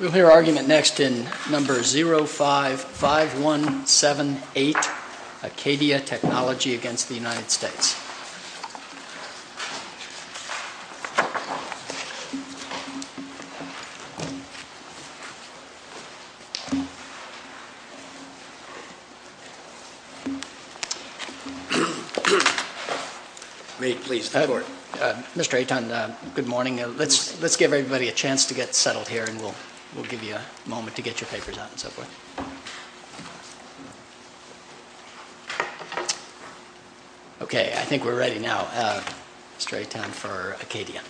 We'll hear argument next in No. 055178, Acadia Technology v. United States. Edward, Mr. Ayton, good morning. Let's give everybody a chance to get settled here and we'll give you a moment to get your papers out and so forth. Okay, I think we're ready now. Mr. Ayton for Acadia.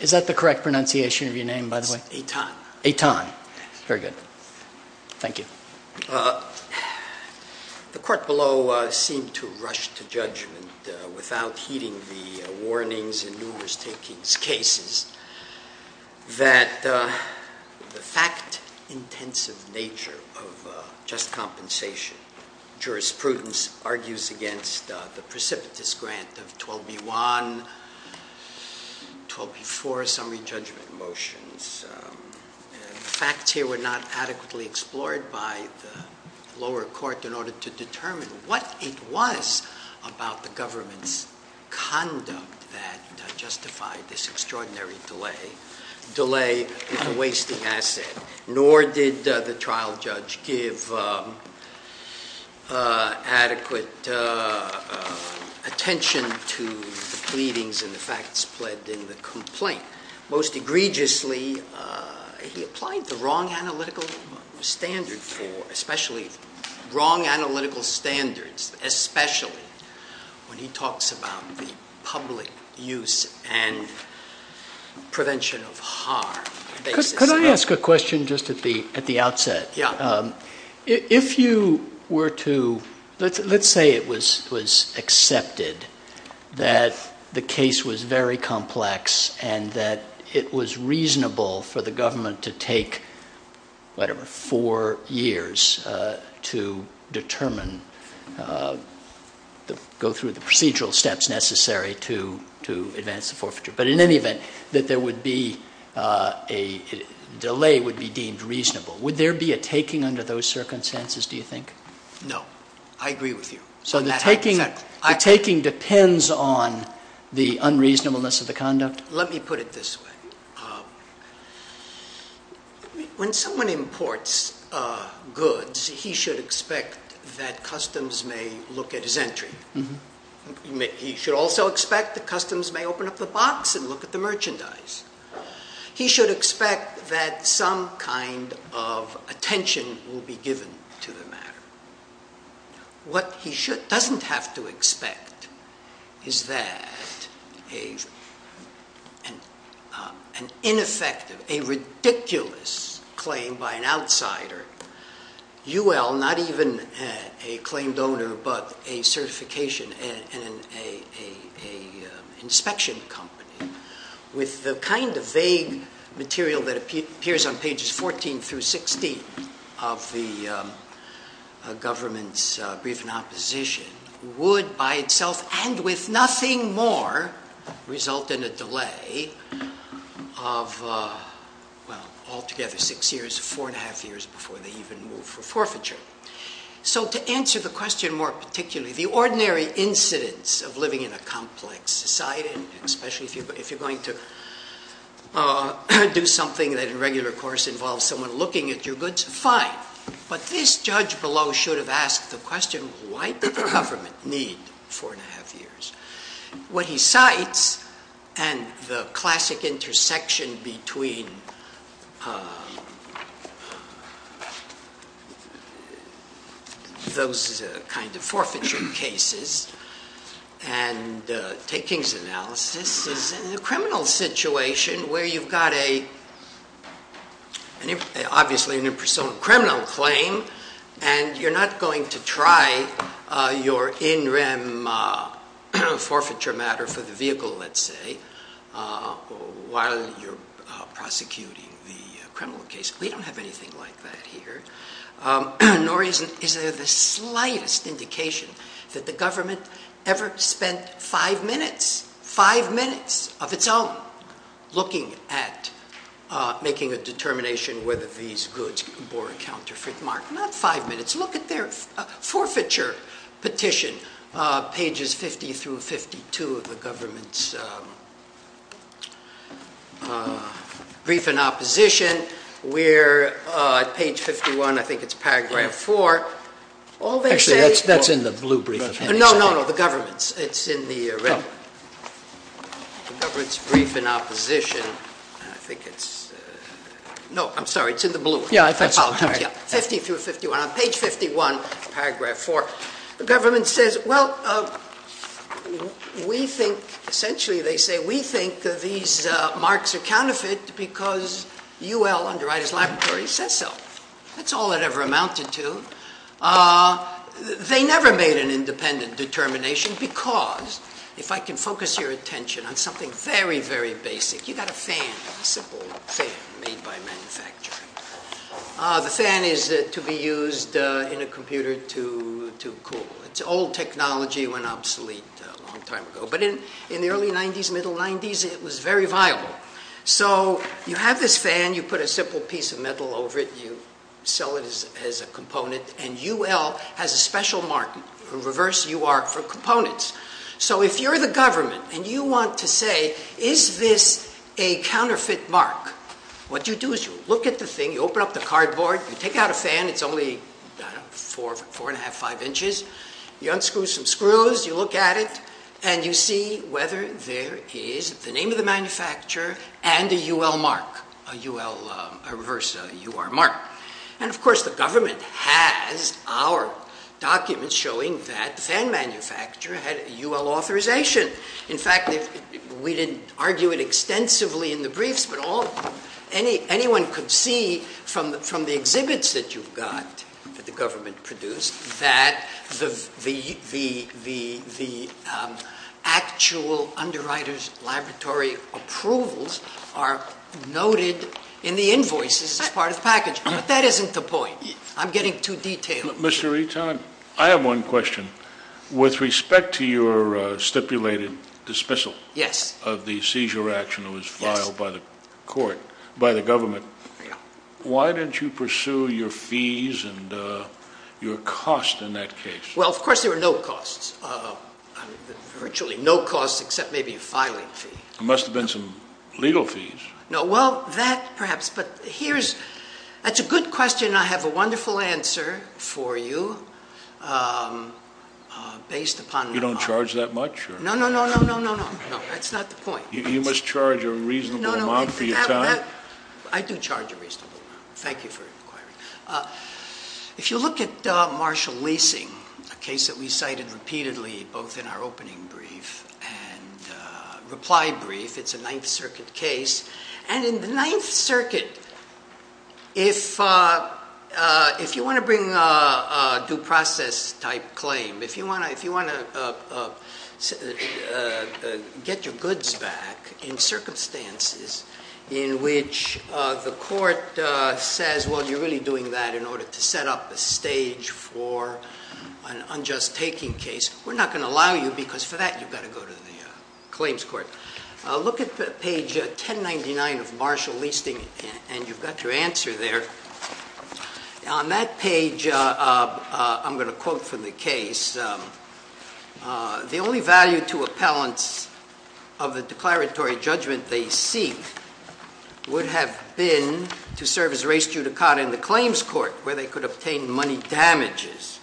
Is that the correct pronunciation of your name, by the way? It's Ayton. Ayton. Very good. Thank you. The court below seemed to rush to judgment without heeding the warnings in numerous takings cases that the fact-intensive nature of just compensation jurisprudence argues against the precipitous grant of 12b-1, 12b-4 summary judgment motions. The facts here were not adequately explored by the lower court in order to determine what it was about the government's conduct that justified this extraordinary delay in the wasting asset, nor did the trial judge give adequate attention to the pleadings and the facts pledged in the complaint. Most egregiously, he applied the wrong analytical standards, especially when he talks about the public use and prevention of harm. Could I ask a question just at the outset? Let's say it was accepted that the case was very complex and that it was reasonable for the government to take, whatever, four years to determine, go through the procedural steps necessary to advance the forfeiture. But in any event, that there would be a delay would be deemed reasonable. Would there be a taking under those circumstances, do you think? No. I agree with you. So the taking depends on the unreasonableness of the conduct? Let me put it this way. When someone imports goods, he should expect that customs may look at his entry. He should also expect that customs may open up the box and look at the merchandise. He should expect that some kind of attention will be given to the matter. What he doesn't have to expect is that an ineffective, a ridiculous claim by an outsider, UL, not even a claimed donor, but a certification and an inspection company, with the kind of vague material that appears on pages 14 through 16 of the government's brief in opposition, would by itself and with nothing more result in a delay of altogether six years, four and a half years before they would open up the box. To answer the question more particularly, the ordinary incidence of living in a complex society, especially if you're going to do something that in regular course involves someone looking at your goods, fine. But this judge below should have asked the question, why did the government need four and a half years? What he cites and the classic intersection between those kind of forfeiture cases and takings analysis is a criminal situation where you've got a, obviously an impersonal criminal claim, and you're not going to try your in prosecuting the criminal case. We don't have anything like that here, nor is there the slightest indication that the government ever spent five minutes, five minutes of its own, looking at making a determination whether these goods bore a counterfeit mark. Not five minutes. Brief in opposition, we're at page 51, I think it's paragraph four. All they say- Actually, that's in the blue brief. No, no, no. The government's. It's in the red. The government's brief in opposition. I think it's, no, I'm sorry. It's in the blue. Yeah, I thought so. I apologize. Yeah. Fifty through 51. On page 51, paragraph four, the government says, well, we think, essentially they say, we think that these marks are counterfeit because UL, Underwriters Laboratory, says so. That's all it ever amounted to. They never made an independent determination because, if I can focus your attention on something very, very basic, you've got a fan, a simple fan made by manufacturing. The fan is to be used in a facility that went obsolete a long time ago, but in the early 90s, middle 90s, it was very viable. So you have this fan, you put a simple piece of metal over it, you sell it as a component, and UL has a special mark, a reverse UR for components. So if you're the government and you want to say, is this a counterfeit mark? What you do is you look at the thing, you open up the cardboard, you take out a fan, it's only four and a half, five inches, you unscrew some screws, you look at it, and you see whether there is the name of the manufacturer and a UL mark, a UL, a reverse UR mark. And, of course, the government has our documents showing that the fan manufacturer had a UL authorization. In fact, we didn't argue it extensively in the briefs, but anyone could see from the briefs that the actual underwriters' laboratory approvals are noted in the invoices as part of the package. But that isn't the point. I'm getting too detailed. Mr. Eaton, I have one question. With respect to your stipulated dismissal of the seizure action that was filed by the court, by the government, why didn't you pursue your fees and your cost in that case? Well, of course, there were no costs. Virtually no costs except maybe a filing fee. There must have been some legal fees. No. Well, that perhaps. But here's... That's a good question. I have a wonderful answer for you based upon... You don't charge that much? No, no, no, no, no, no, no. That's not the point. You must charge a reasonable amount for your time? I do charge a reasonable amount. Thank you for inquiring. If you look at Marshall Leasing, a case that we cited repeatedly both in our opening brief and reply brief, it's a Ninth Circuit case. And in the Ninth Circuit, if you want to bring a due process type claim, if you want to get your goods back in circumstances in which the court says, well, you're really doing that in order to set up a stage for an unjust taking case, we're not going to allow you because for that, you've got to go to the claims court. Look at page 1099 of Marshall Leasing, and you've got your answer there. On that page, I'm going to quote from the case, the only value to appellants of the declaratory judgment they seek would have been to serve as res judicata in the claims court where they could obtain money damages.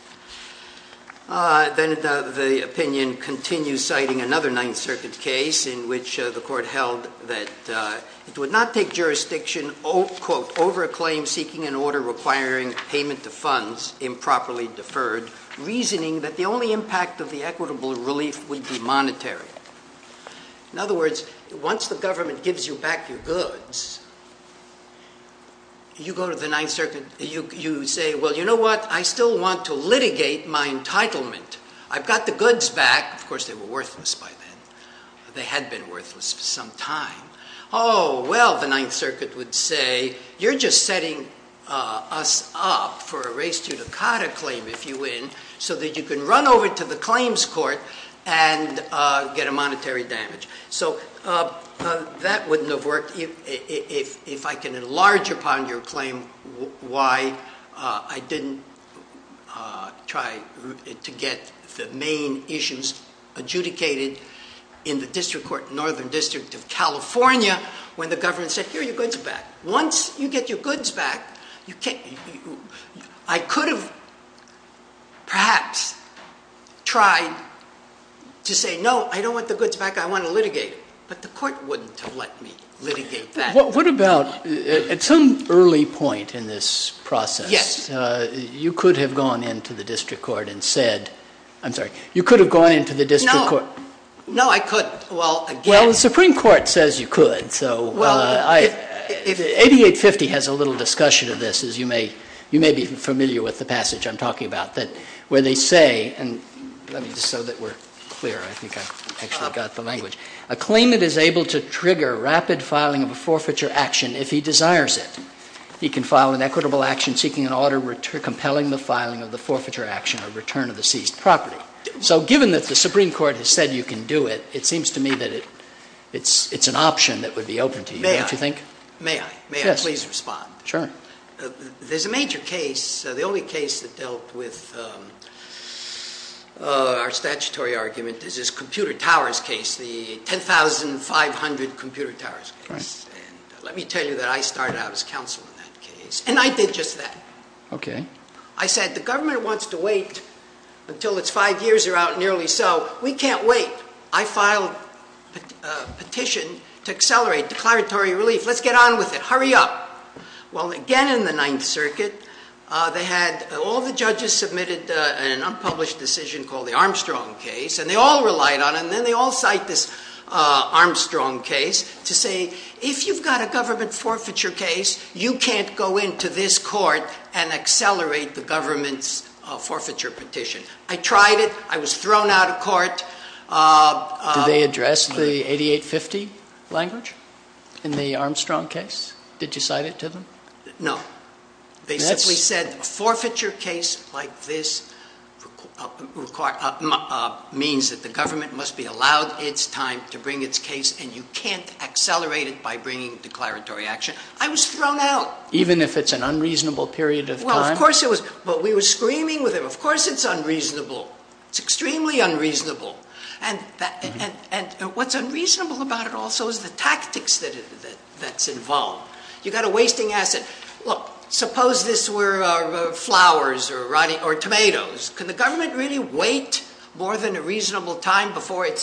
Then the opinion continues citing another Ninth Circuit case in which the court held that it over a claim seeking an order requiring payment to funds improperly deferred, reasoning that the only impact of the equitable relief would be monetary. In other words, once the government gives you back your goods, you go to the Ninth Circuit, you say, well, you know what? I still want to litigate my entitlement. I've got the goods back. Of course, they were worthless by then. They had been worthless for some time. Oh, well, the Ninth Circuit would say, you're just setting us up for a res judicata claim if you win, so that you can run over to the claims court and get a monetary damage. So that wouldn't have worked if I can enlarge upon your claim why I didn't try to get the main issues adjudicated in the district court, Northern District of California, when the government said, here are your goods back. Once you get your goods back, I could have perhaps tried to say, no, I don't want the goods back. I want to litigate. But the court wouldn't have let me litigate that. What about at some early point in this process, you could have gone into the district court and said, I'm going to litigate. No, I couldn't. Well, the Supreme Court says you could. 8850 has a little discussion of this, as you may be familiar with the passage I'm talking about, where they say, and let me just so that we're clear, I think I've actually got the language, a claimant is able to trigger rapid filing of a forfeiture action if he desires it. He can file an equitable action seeking an order compelling the filing of the forfeiture action or return of the seized property. So given that the Supreme Court has said you can do it, it seems to me that it's an option that would be open to you, don't you think? May I? May I? May I please respond? Sure. There's a major case, the only case that dealt with our statutory argument is this Computer Towers case, the 10,500 Computer Towers case. And let me tell you that I started out as counsel in that case. And I did just that. Okay. I said, the government wants to wait until it's five years are out, nearly so. We can't wait. I filed a petition to accelerate declaratory relief. Let's get on with it. Hurry up. Well, again, in the Ninth Circuit, they had all the judges submitted an unpublished decision called the Armstrong case, and they all relied on it. And then they all cite this Armstrong case to say, if you've got a government forfeiture case, you can't go into this court and accelerate the government's forfeiture petition. I tried it. I was thrown out of court. Did they address the 8850 language in the Armstrong case? Did you cite it to them? No. They simply said, a forfeiture case like this means that the government must be allowed its time to bring its case, and you can't accelerate it by bringing declaratory action. I was thrown out. Even if it's an unreasonable period of time? Well, of course it was. But we were screaming with them, of course it's unreasonable. It's extremely unreasonable. And what's unreasonable about it also is the tactics that's involved. You've got a wasting asset. Look, suppose this were flowers or tomatoes. Can the government really wait more than a reasonable time before it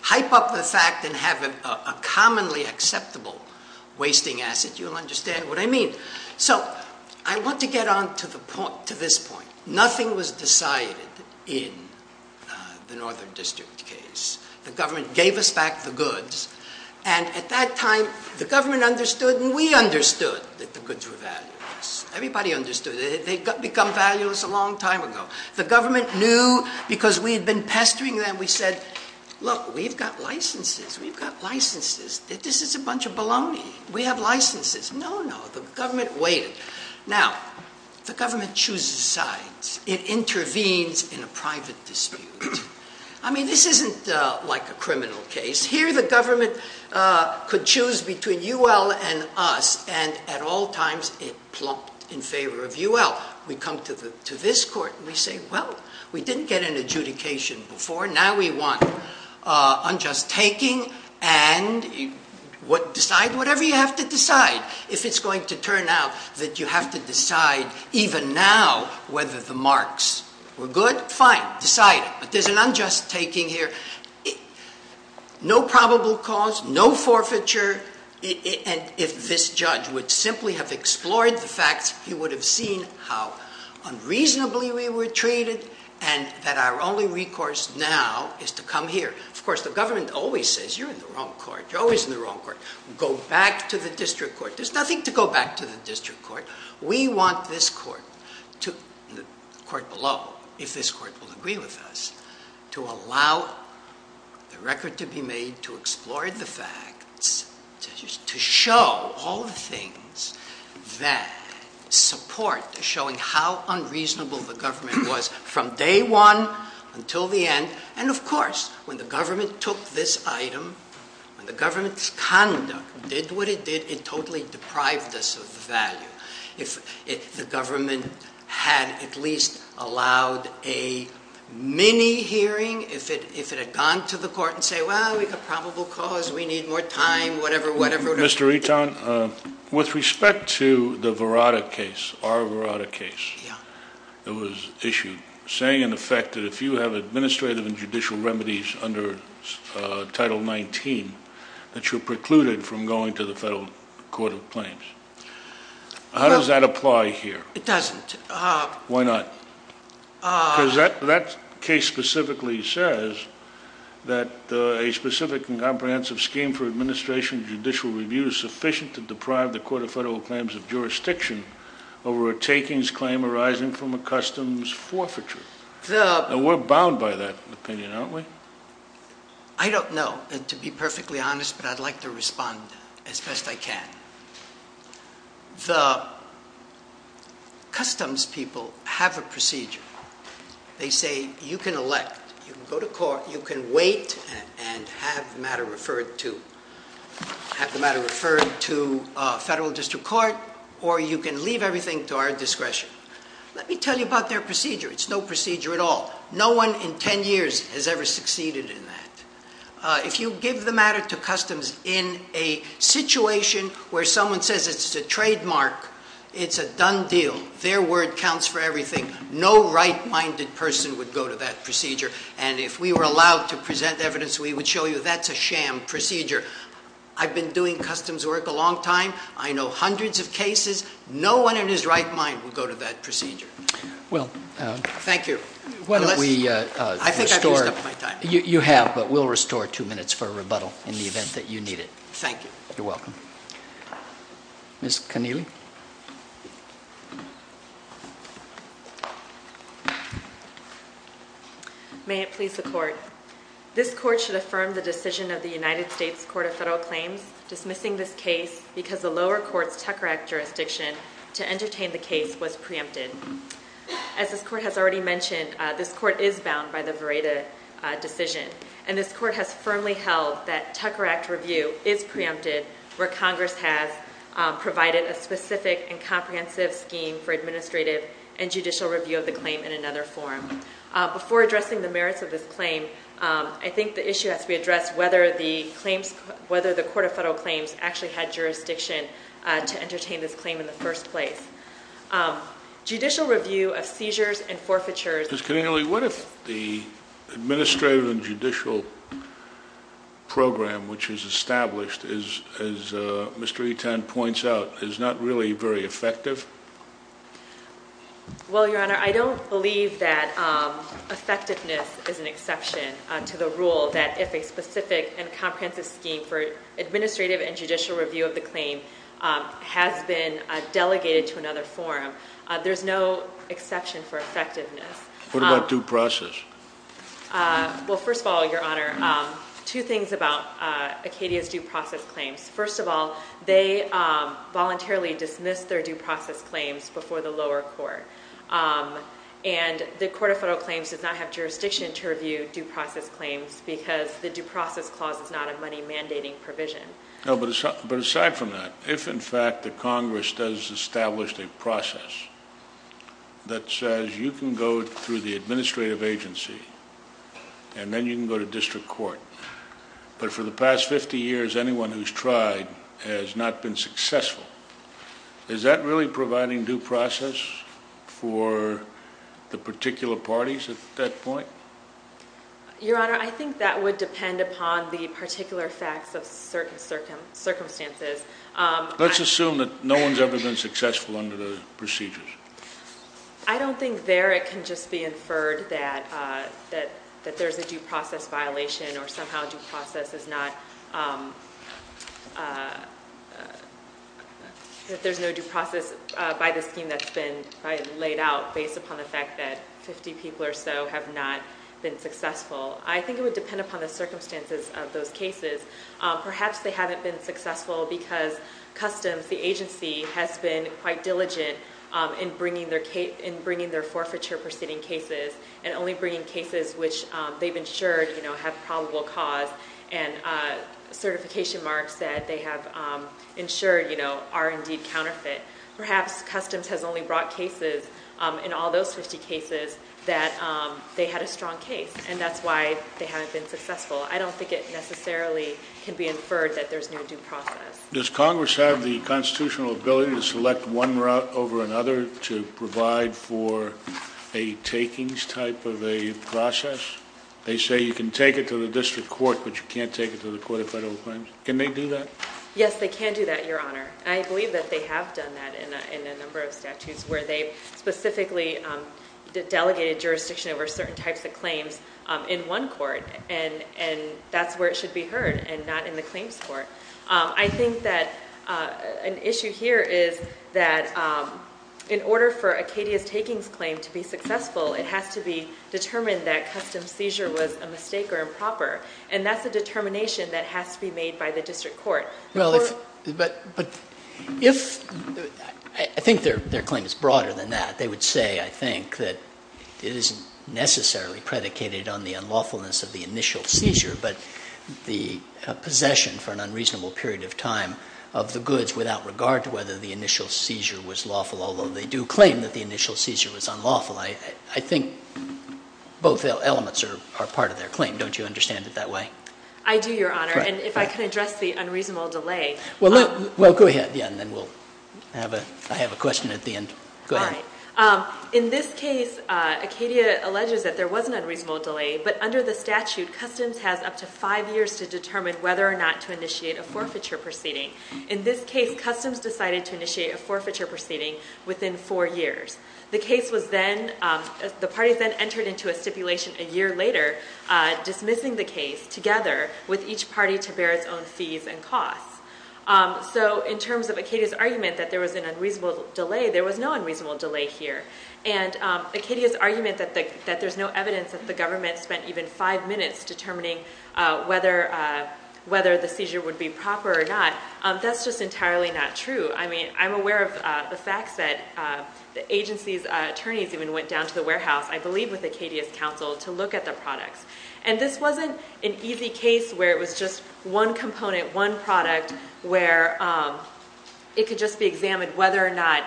Hype up the fact and have a commonly acceptable wasting asset. You'll understand what I mean. So I want to get on to this point. Nothing was decided in the Northern District case. The government gave us back the goods, and at that time, the government understood and we understood that the goods were valueless. Everybody understood. They had become valueless a long time ago. The government knew because we had been pestering them. We said, look, we've got licenses. We've got licenses. This is a bunch of baloney. We have licenses. No, no, the government waited. Now, the government chooses sides. It intervenes in a private dispute. I mean, this isn't like a criminal case. Here, the government could choose between UL and us, and at all times, it plumped in favor of UL. We come to this court and we say, well, we didn't get an adjudication before. Now we want unjust taking and decide whatever you have to decide. If it's going to turn out that you have to decide even now whether the marks were good, fine, decide it. But there's an unjust taking here. No probable cause, no forfeiture. And if this judge would simply have explored the facts, he would have seen how unreasonably we were treated and that our only recourse now is to come here. Of course, the government always says, you're in the wrong court. You're always in the wrong court. Go back to the district court. There's nothing to go back to the district court. We want this court, the court below, if this court will agree with us, to allow the record to be made, to explore the facts, to show all the things that support showing how unreasonable the government was from day one until the end. And of course, when the government took this item, when the government's conduct did what it did, it totally deprived us of the value. If the government had at least allowed a mini-hearing, if it had gone to the court and said, well, we've got probable cause, we need more time, whatever, whatever. Mr. Eton, with respect to the Verada case, our Verada case that was issued, saying in effect that if you have administrative and judicial remedies under Title 19, that you're precluded from going to the Federal Court of Claims, how does that apply here? It doesn't. Why not? Because that case specifically says that a specific and comprehensive scheme for administration and judicial review is sufficient to deprive the Court of Federal Claims of jurisdiction over a takings claim arising from a customs forfeiture. And we're bound by that opinion, aren't we? I don't know, and to be perfectly honest, but I'd like to respond as best I can. The customs people have a procedure. They say, you can elect, you can go to court, you can wait and have the matter referred to. Have the matter referred to Federal District Court, or you can leave everything to our discretion. Let me tell you about their procedure. It's no procedure at all. No one in ten years has ever succeeded in that. If you give the matter to customs in a situation where someone says it's a trademark, it's a done deal, their word counts for everything, no right-minded person would go to that procedure. And if we were allowed to present evidence, we would show you that's a sham procedure. I've been doing customs work a long time. I know hundreds of cases. No one in his right mind would go to that procedure. Thank you. I think I've used up my time. You have, but we'll restore two minutes for a rebuttal in the event that you need it. Thank you. You're welcome. Ms. Connealy? May it please the Court. This Court should affirm the decision of the United States Court of Federal Claims dismissing this case because the lower court's Tucker Act jurisdiction to entertain the case was preempted. As this Court has already mentioned, this Court is bound by the Vereda decision. And this Court has firmly held that Tucker Act review is preempted where Congress has provided a specific and comprehensive scheme for administrative and judicial review of the claim in another form. Before addressing the merits of this claim, I think the issue has to be addressed whether the Court of Federal Claims actually had jurisdiction to entertain this claim in the first place. Judicial review of seizures and forfeitures... Ms. Connealy, what if the administrative and judicial program which is established, as Mr. Etan points out, is not really very effective? Well, Your Honor, I don't believe that effectiveness is an exception to the rule that if a specific and comprehensive scheme for administrative and judicial review of the claim has been delegated to another forum, there's no exception for effectiveness. What about due process? Well, first of all, Your Honor, two things about Acadia's due process claims. First of all, they voluntarily dismissed their due process claims before the lower court. And the Court of Federal Claims does not have jurisdiction to review due process claims because the due process clause is not a money-mandating provision. But aside from that, if in fact the Congress does establish a process that says you can go through the administrative agency and then you can go to district court, but for the past 50 years anyone who's tried has not been successful, is that really providing due process for the particular parties at that point? Your Honor, I think that would depend upon the particular facts of certain circumstances. Let's assume that no one's ever been successful under the procedures. I don't think there it can just be inferred that there's a due process violation or somehow due process is not, that there's no due process by the scheme that's been laid out based upon the fact that 50 people or so have not been successful. I think it would depend upon the circumstances of those cases. has been quite diligent in bringing their forfeiture proceeding cases and only bringing cases which they've ensured have probable cause and certification marks that they have ensured are indeed counterfeit. Perhaps Customs has only brought cases in all those 50 cases that they had a strong case, and that's why they haven't been successful. I don't think it necessarily can be inferred that there's no due process. Does Congress have the constitutional ability to select one route over another to provide for a takings type of a process? They say you can take it to the district court, but you can't take it to the Court of Federal Claims. Can they do that? Yes, they can do that, Your Honor. I believe that they have done that in a number of statutes where they specifically delegated jurisdiction over certain types of claims in one court, and that's where it should be heard and not in the claims court. I think that an issue here is that in order for Acadia's takings claim to be successful, it has to be determined that Customs' seizure was a mistake or improper, and that's a determination that has to be made by the district court. Well, but if they're claim is broader than that, they would say, I think, that it isn't necessarily predicated on the unlawfulness of the initial seizure, but the possession for an unreasonable period of time of the goods without regard to whether the initial seizure was lawful, although they do claim that the initial seizure was unlawful. I think both elements are part of their claim. Don't you understand it that way? I do, Your Honor, and if I could address the unreasonable delay. Well, go ahead, and then I have a question at the end. All right. In this case, Acadia alleges that there was an unreasonable delay, but under the statute, Customs has up to five years to determine whether or not to initiate a forfeiture proceeding. In this case, Customs decided to initiate a forfeiture proceeding within four years. The parties then entered into a stipulation a year later dismissing the case, together with each party to bear its own fees and costs. So in terms of Acadia's argument that there was an unreasonable delay, there was no unreasonable delay here. And Acadia's argument that there's no evidence that the government spent even five minutes determining whether the seizure would be proper or not, that's just entirely not true. I mean, I'm aware of the facts that the agency's attorneys even went down to the warehouse, I believe with Acadia's counsel, to look at the products. And this wasn't an easy case where it was just one component, one product, where it could just be examined whether or not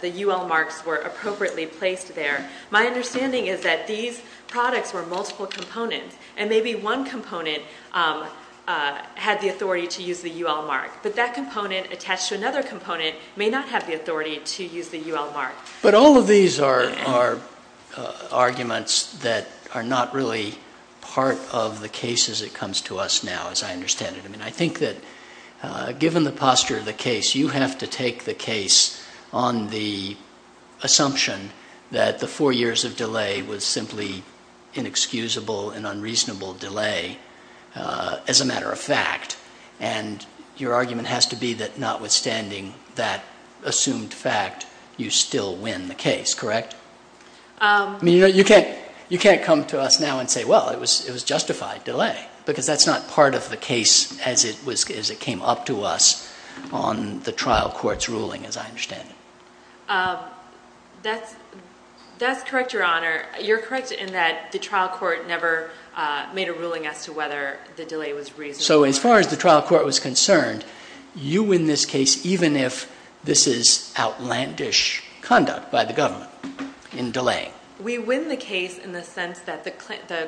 the U.L. marks were appropriately placed there. My understanding is that these products were multiple components, and maybe one component had the authority to use the U.L. mark. But that component attached to another component may not have the authority to use the U.L. mark. But all of these are arguments that are not really part of the case as it comes to us now, as I understand it. I mean, I think that given the posture of the case, you have to take the case on the assumption that the four years of delay was simply inexcusable and unreasonable delay as a matter of fact. And your argument has to be that notwithstanding that assumed fact, you still win the case, correct? I mean, you can't come to us now and say, well, it was justified delay, because that's not part of the case as it came up to us on the trial court's ruling, as I understand it. That's correct, Your Honor. You're correct in that the trial court never made a ruling as to whether the delay was reasonable. So as far as the trial court was concerned, you win this case even if this is outlandish conduct by the government in delaying. We win the case in the sense that the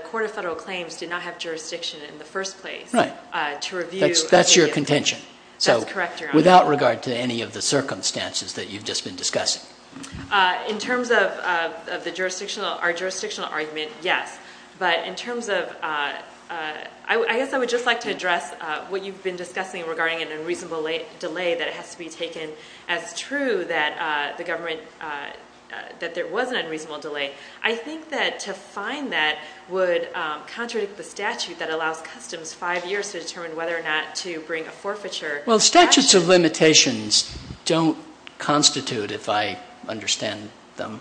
Court of Federal Claims did not have jurisdiction in the first place to review. That's your contention. That's correct, Your Honor. Without regard to any of the circumstances that you've just been discussing. In terms of our jurisdictional argument, yes. But in terms of ‑‑ I guess I would just like to address what you've been discussing regarding an unreasonable delay that has to be taken as true that there was an unreasonable delay. I think that to find that would contradict the statute that allows customs five years to determine whether or not to bring a forfeiture. Well, statutes of limitations don't constitute, if I understand them,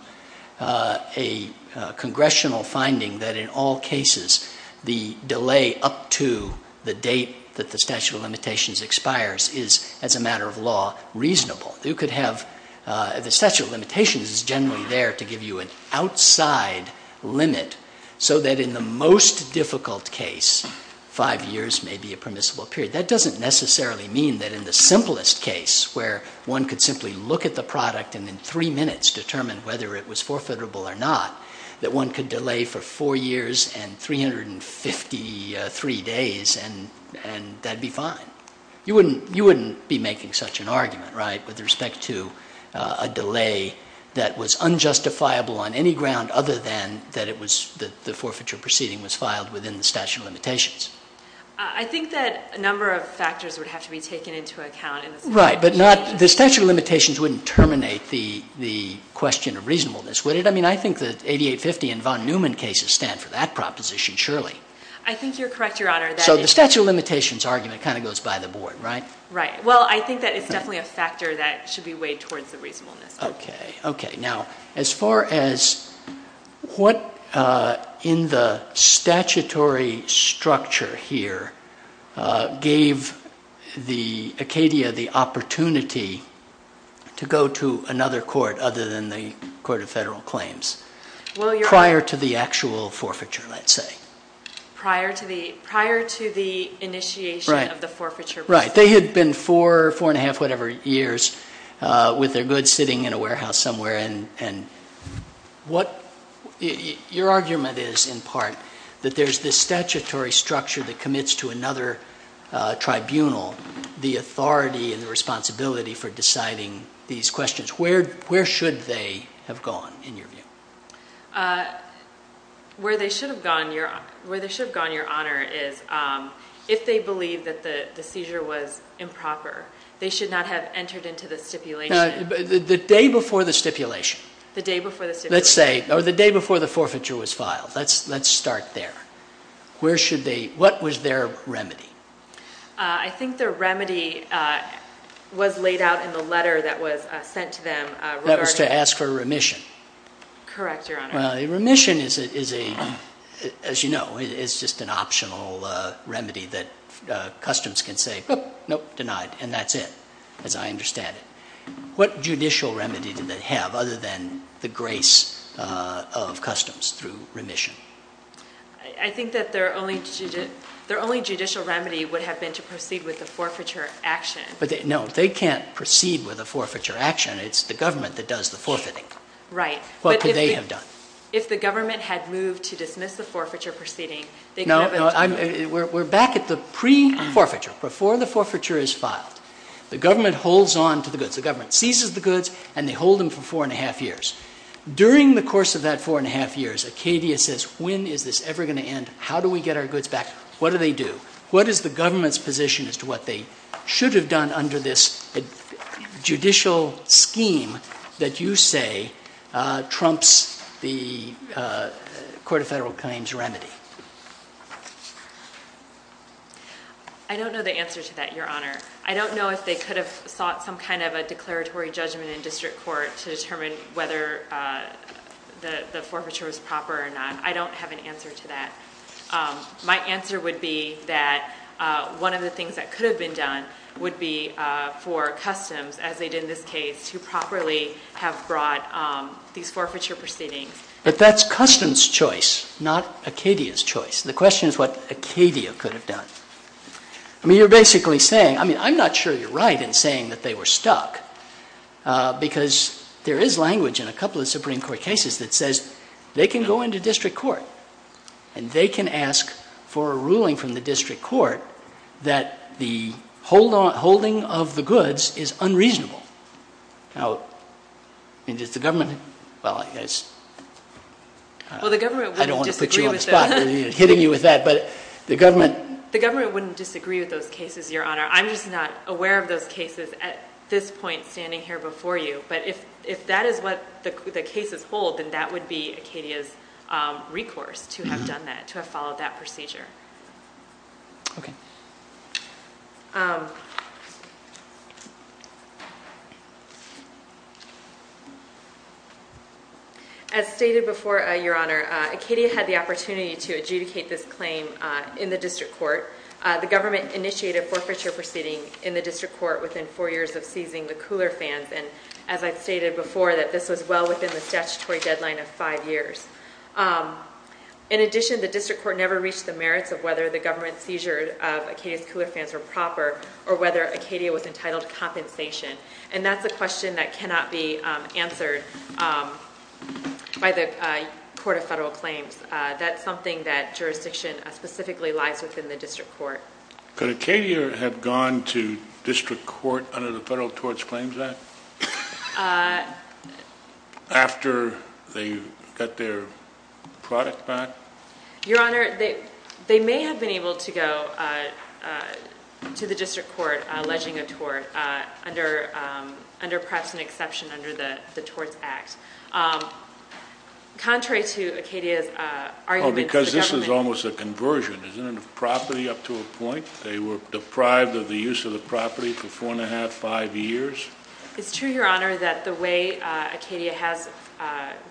a congressional finding that in all cases the delay up to the date that the statute of limitations expires is, as a matter of law, reasonable. You could have ‑‑ the statute of limitations is generally there to give you an outside limit so that in the most difficult case five years may be a permissible period. That doesn't necessarily mean that in the simplest case where one could simply look at the product and in three minutes determine whether it was forfeitable or not, that one could delay for four years and 353 days and that would be fine. You wouldn't be making such an argument, right, with respect to a delay that was unjustifiable on any ground other than that the forfeiture proceeding was filed within the statute of limitations. I think that a number of factors would have to be taken into account. Right, but the statute of limitations wouldn't terminate the question of reasonableness, would it? I mean, I think the 8850 and von Neumann cases stand for that proposition, surely. I think you're correct, Your Honor. So the statute of limitations argument kind of goes by the board, right? Right. Well, I think that it's definitely a factor that should be weighed towards the reasonableness. Okay. Now, as far as what in the statutory structure here gave Acadia the opportunity to go to another court other than the Court of Federal Claims prior to the actual forfeiture, let's say. Prior to the initiation of the forfeiture proceeding. Right. They had been four, four and a half, whatever, years with their goods sitting in a warehouse somewhere. And your argument is, in part, that there's this statutory structure that commits to another tribunal the authority and the responsibility for deciding these questions. Where should they have gone, in your view? Where they should have gone, Your Honor, is if they believe that the seizure was improper, they should not have entered into the stipulation. The day before the stipulation. The day before the stipulation. Let's say, or the day before the forfeiture was filed. Let's start there. Where should they, what was their remedy? I think their remedy was laid out in the letter that was sent to them regarding Correct, Your Honor. Well, a remission is a, as you know, is just an optional remedy that customs can say, nope, denied, and that's it, as I understand it. What judicial remedy did they have other than the grace of customs through remission? I think that their only judicial remedy would have been to proceed with the forfeiture action. But, no, they can't proceed with a forfeiture action. It's the government that does the forfeiting. Right. What could they have done? If the government had moved to dismiss the forfeiture proceeding, No, no, we're back at the pre-forfeiture, before the forfeiture is filed. The government holds on to the goods. The government seizes the goods, and they hold them for four and a half years. During the course of that four and a half years, Acadia says, when is this ever going to end? How do we get our goods back? What do they do? What is the government's position as to what they should have done under this judicial scheme that you say trumps the Court of Federal Claims remedy? I don't know the answer to that, Your Honor. I don't know if they could have sought some kind of a declaratory judgment in district court to determine whether the forfeiture was proper or not. I don't have an answer to that. My answer would be that one of the things that could have been done would be for Customs, as they did in this case, to properly have brought these forfeiture proceedings. But that's Customs' choice, not Acadia's choice. The question is what Acadia could have done. I mean, you're basically saying, I mean, I'm not sure you're right in saying that they were stuck because there is language in a couple of Supreme Court cases that says they can go into district court and they can ask for a ruling from the district court that the holding of the goods is unreasonable. Now, I mean, does the government, well, I guess, I don't want to put you on the spot, hitting you with that, but the government. The government wouldn't disagree with those cases, Your Honor. I'm just not aware of those cases at this point standing here before you. But if that is what the cases hold, then that would be Acadia's recourse to have done that, to have followed that procedure. As stated before, Your Honor, Acadia had the opportunity to adjudicate this claim in the district court. The government initiated a forfeiture proceeding in the district court within four years of seizing the cooler fans. And as I've stated before, that this was well within the statutory deadline of five years. In addition, the district court never reached the merits of whether the government seizure of Acadia's cooler fans were proper or whether Acadia was entitled to compensation. And that's a question that cannot be answered by the Court of Federal Claims. That's something that jurisdiction specifically lies within the district court. Could Acadia have gone to district court under the Federal Torts Claims Act after they got their product back? Your Honor, they may have been able to go to the district court alleging a tort under perhaps an exception under the Torts Act. Contrary to Acadia's arguments, the government... They were deprived of the use of the property for four and a half, five years? It's true, Your Honor, that the way Acadia has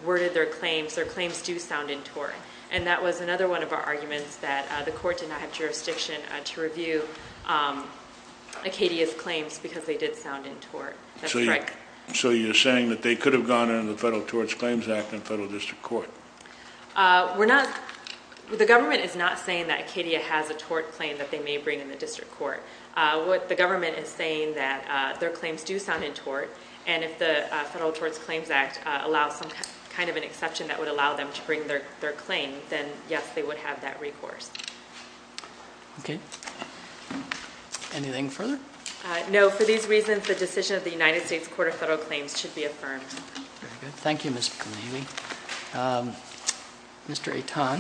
worded their claims, their claims do sound in tort. And that was another one of our arguments, that the court did not have jurisdiction to review Acadia's claims because they did sound in tort. So you're saying that they could have gone under the Federal Torts Claims Act in federal district court? We're not... The government is not saying that Acadia has a tort claim that they may bring in the district court. What the government is saying that their claims do sound in tort, and if the Federal Torts Claims Act allows some kind of an exception that would allow them to bring their claim, then yes, they would have that recourse. Okay. Anything further? No. For these reasons, the decision of the United States Court of Federal Claims should be affirmed. Very good. Thank you, Ms. McClain. Mr. Eitan,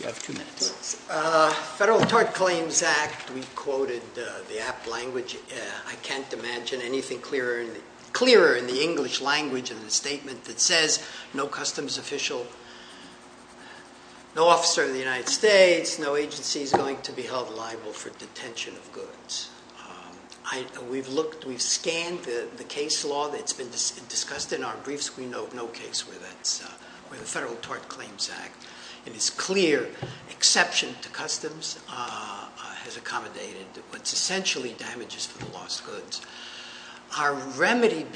you have two minutes. Federal Tort Claims Act, we quoted the apt language. I can't imagine anything clearer in the English language in the statement that says, no customs official, no officer of the United States, no agency is going to be held liable for detention of goods. We've scanned the case law that's been discussed in our briefs. We know of no case where the Federal Tort Claims Act, in its clear exception to customs, has accommodated what's essentially damages for the lost goods. Our remedy,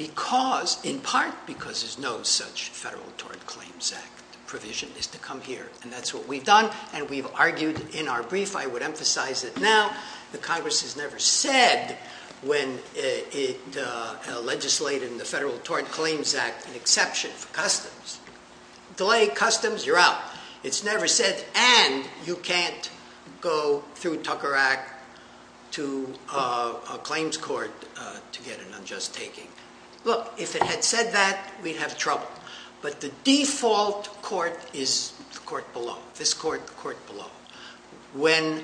in part because there's no such Federal Tort Claims Act provision, is to come here. And that's what we've done, and we've argued in our brief. I would emphasize it now. The Congress has never said when it legislated in the Federal Tort Claims Act an exception for customs. Delay customs, you're out. It's never said, and you can't go through Tucker Act to a claims court to get an unjust taking. Look, if it had said that, we'd have trouble. But the default court is the court below. This court, the court below. When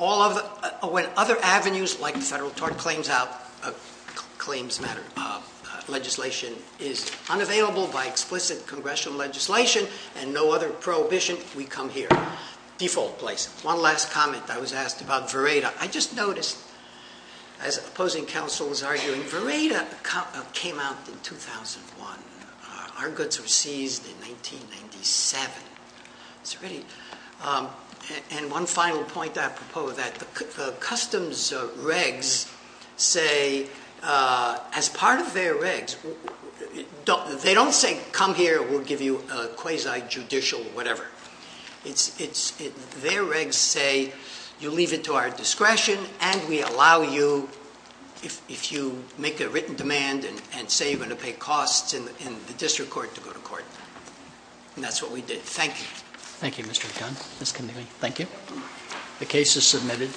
other avenues, like the Federal Tort Claims Matter legislation, is unavailable by explicit congressional legislation and no other prohibition, we come here. Default place. One last comment. I was asked about Vereda. I just noticed, as opposing counsel was arguing, Vereda came out in 2001. Our goods were seized in 1997. It's great. And one final point that I propose, that the customs regs say, as part of their regs, they don't say, come here, we'll give you a quasi-judicial whatever. Their regs say, you leave it to our discretion, and we allow you, if you make a written demand and say you're going to pay costs in the district court, to go to court. And that's what we did. Thank you. Thank you, Mr. McDonough. Ms. Condigley, thank you. The case is submitted.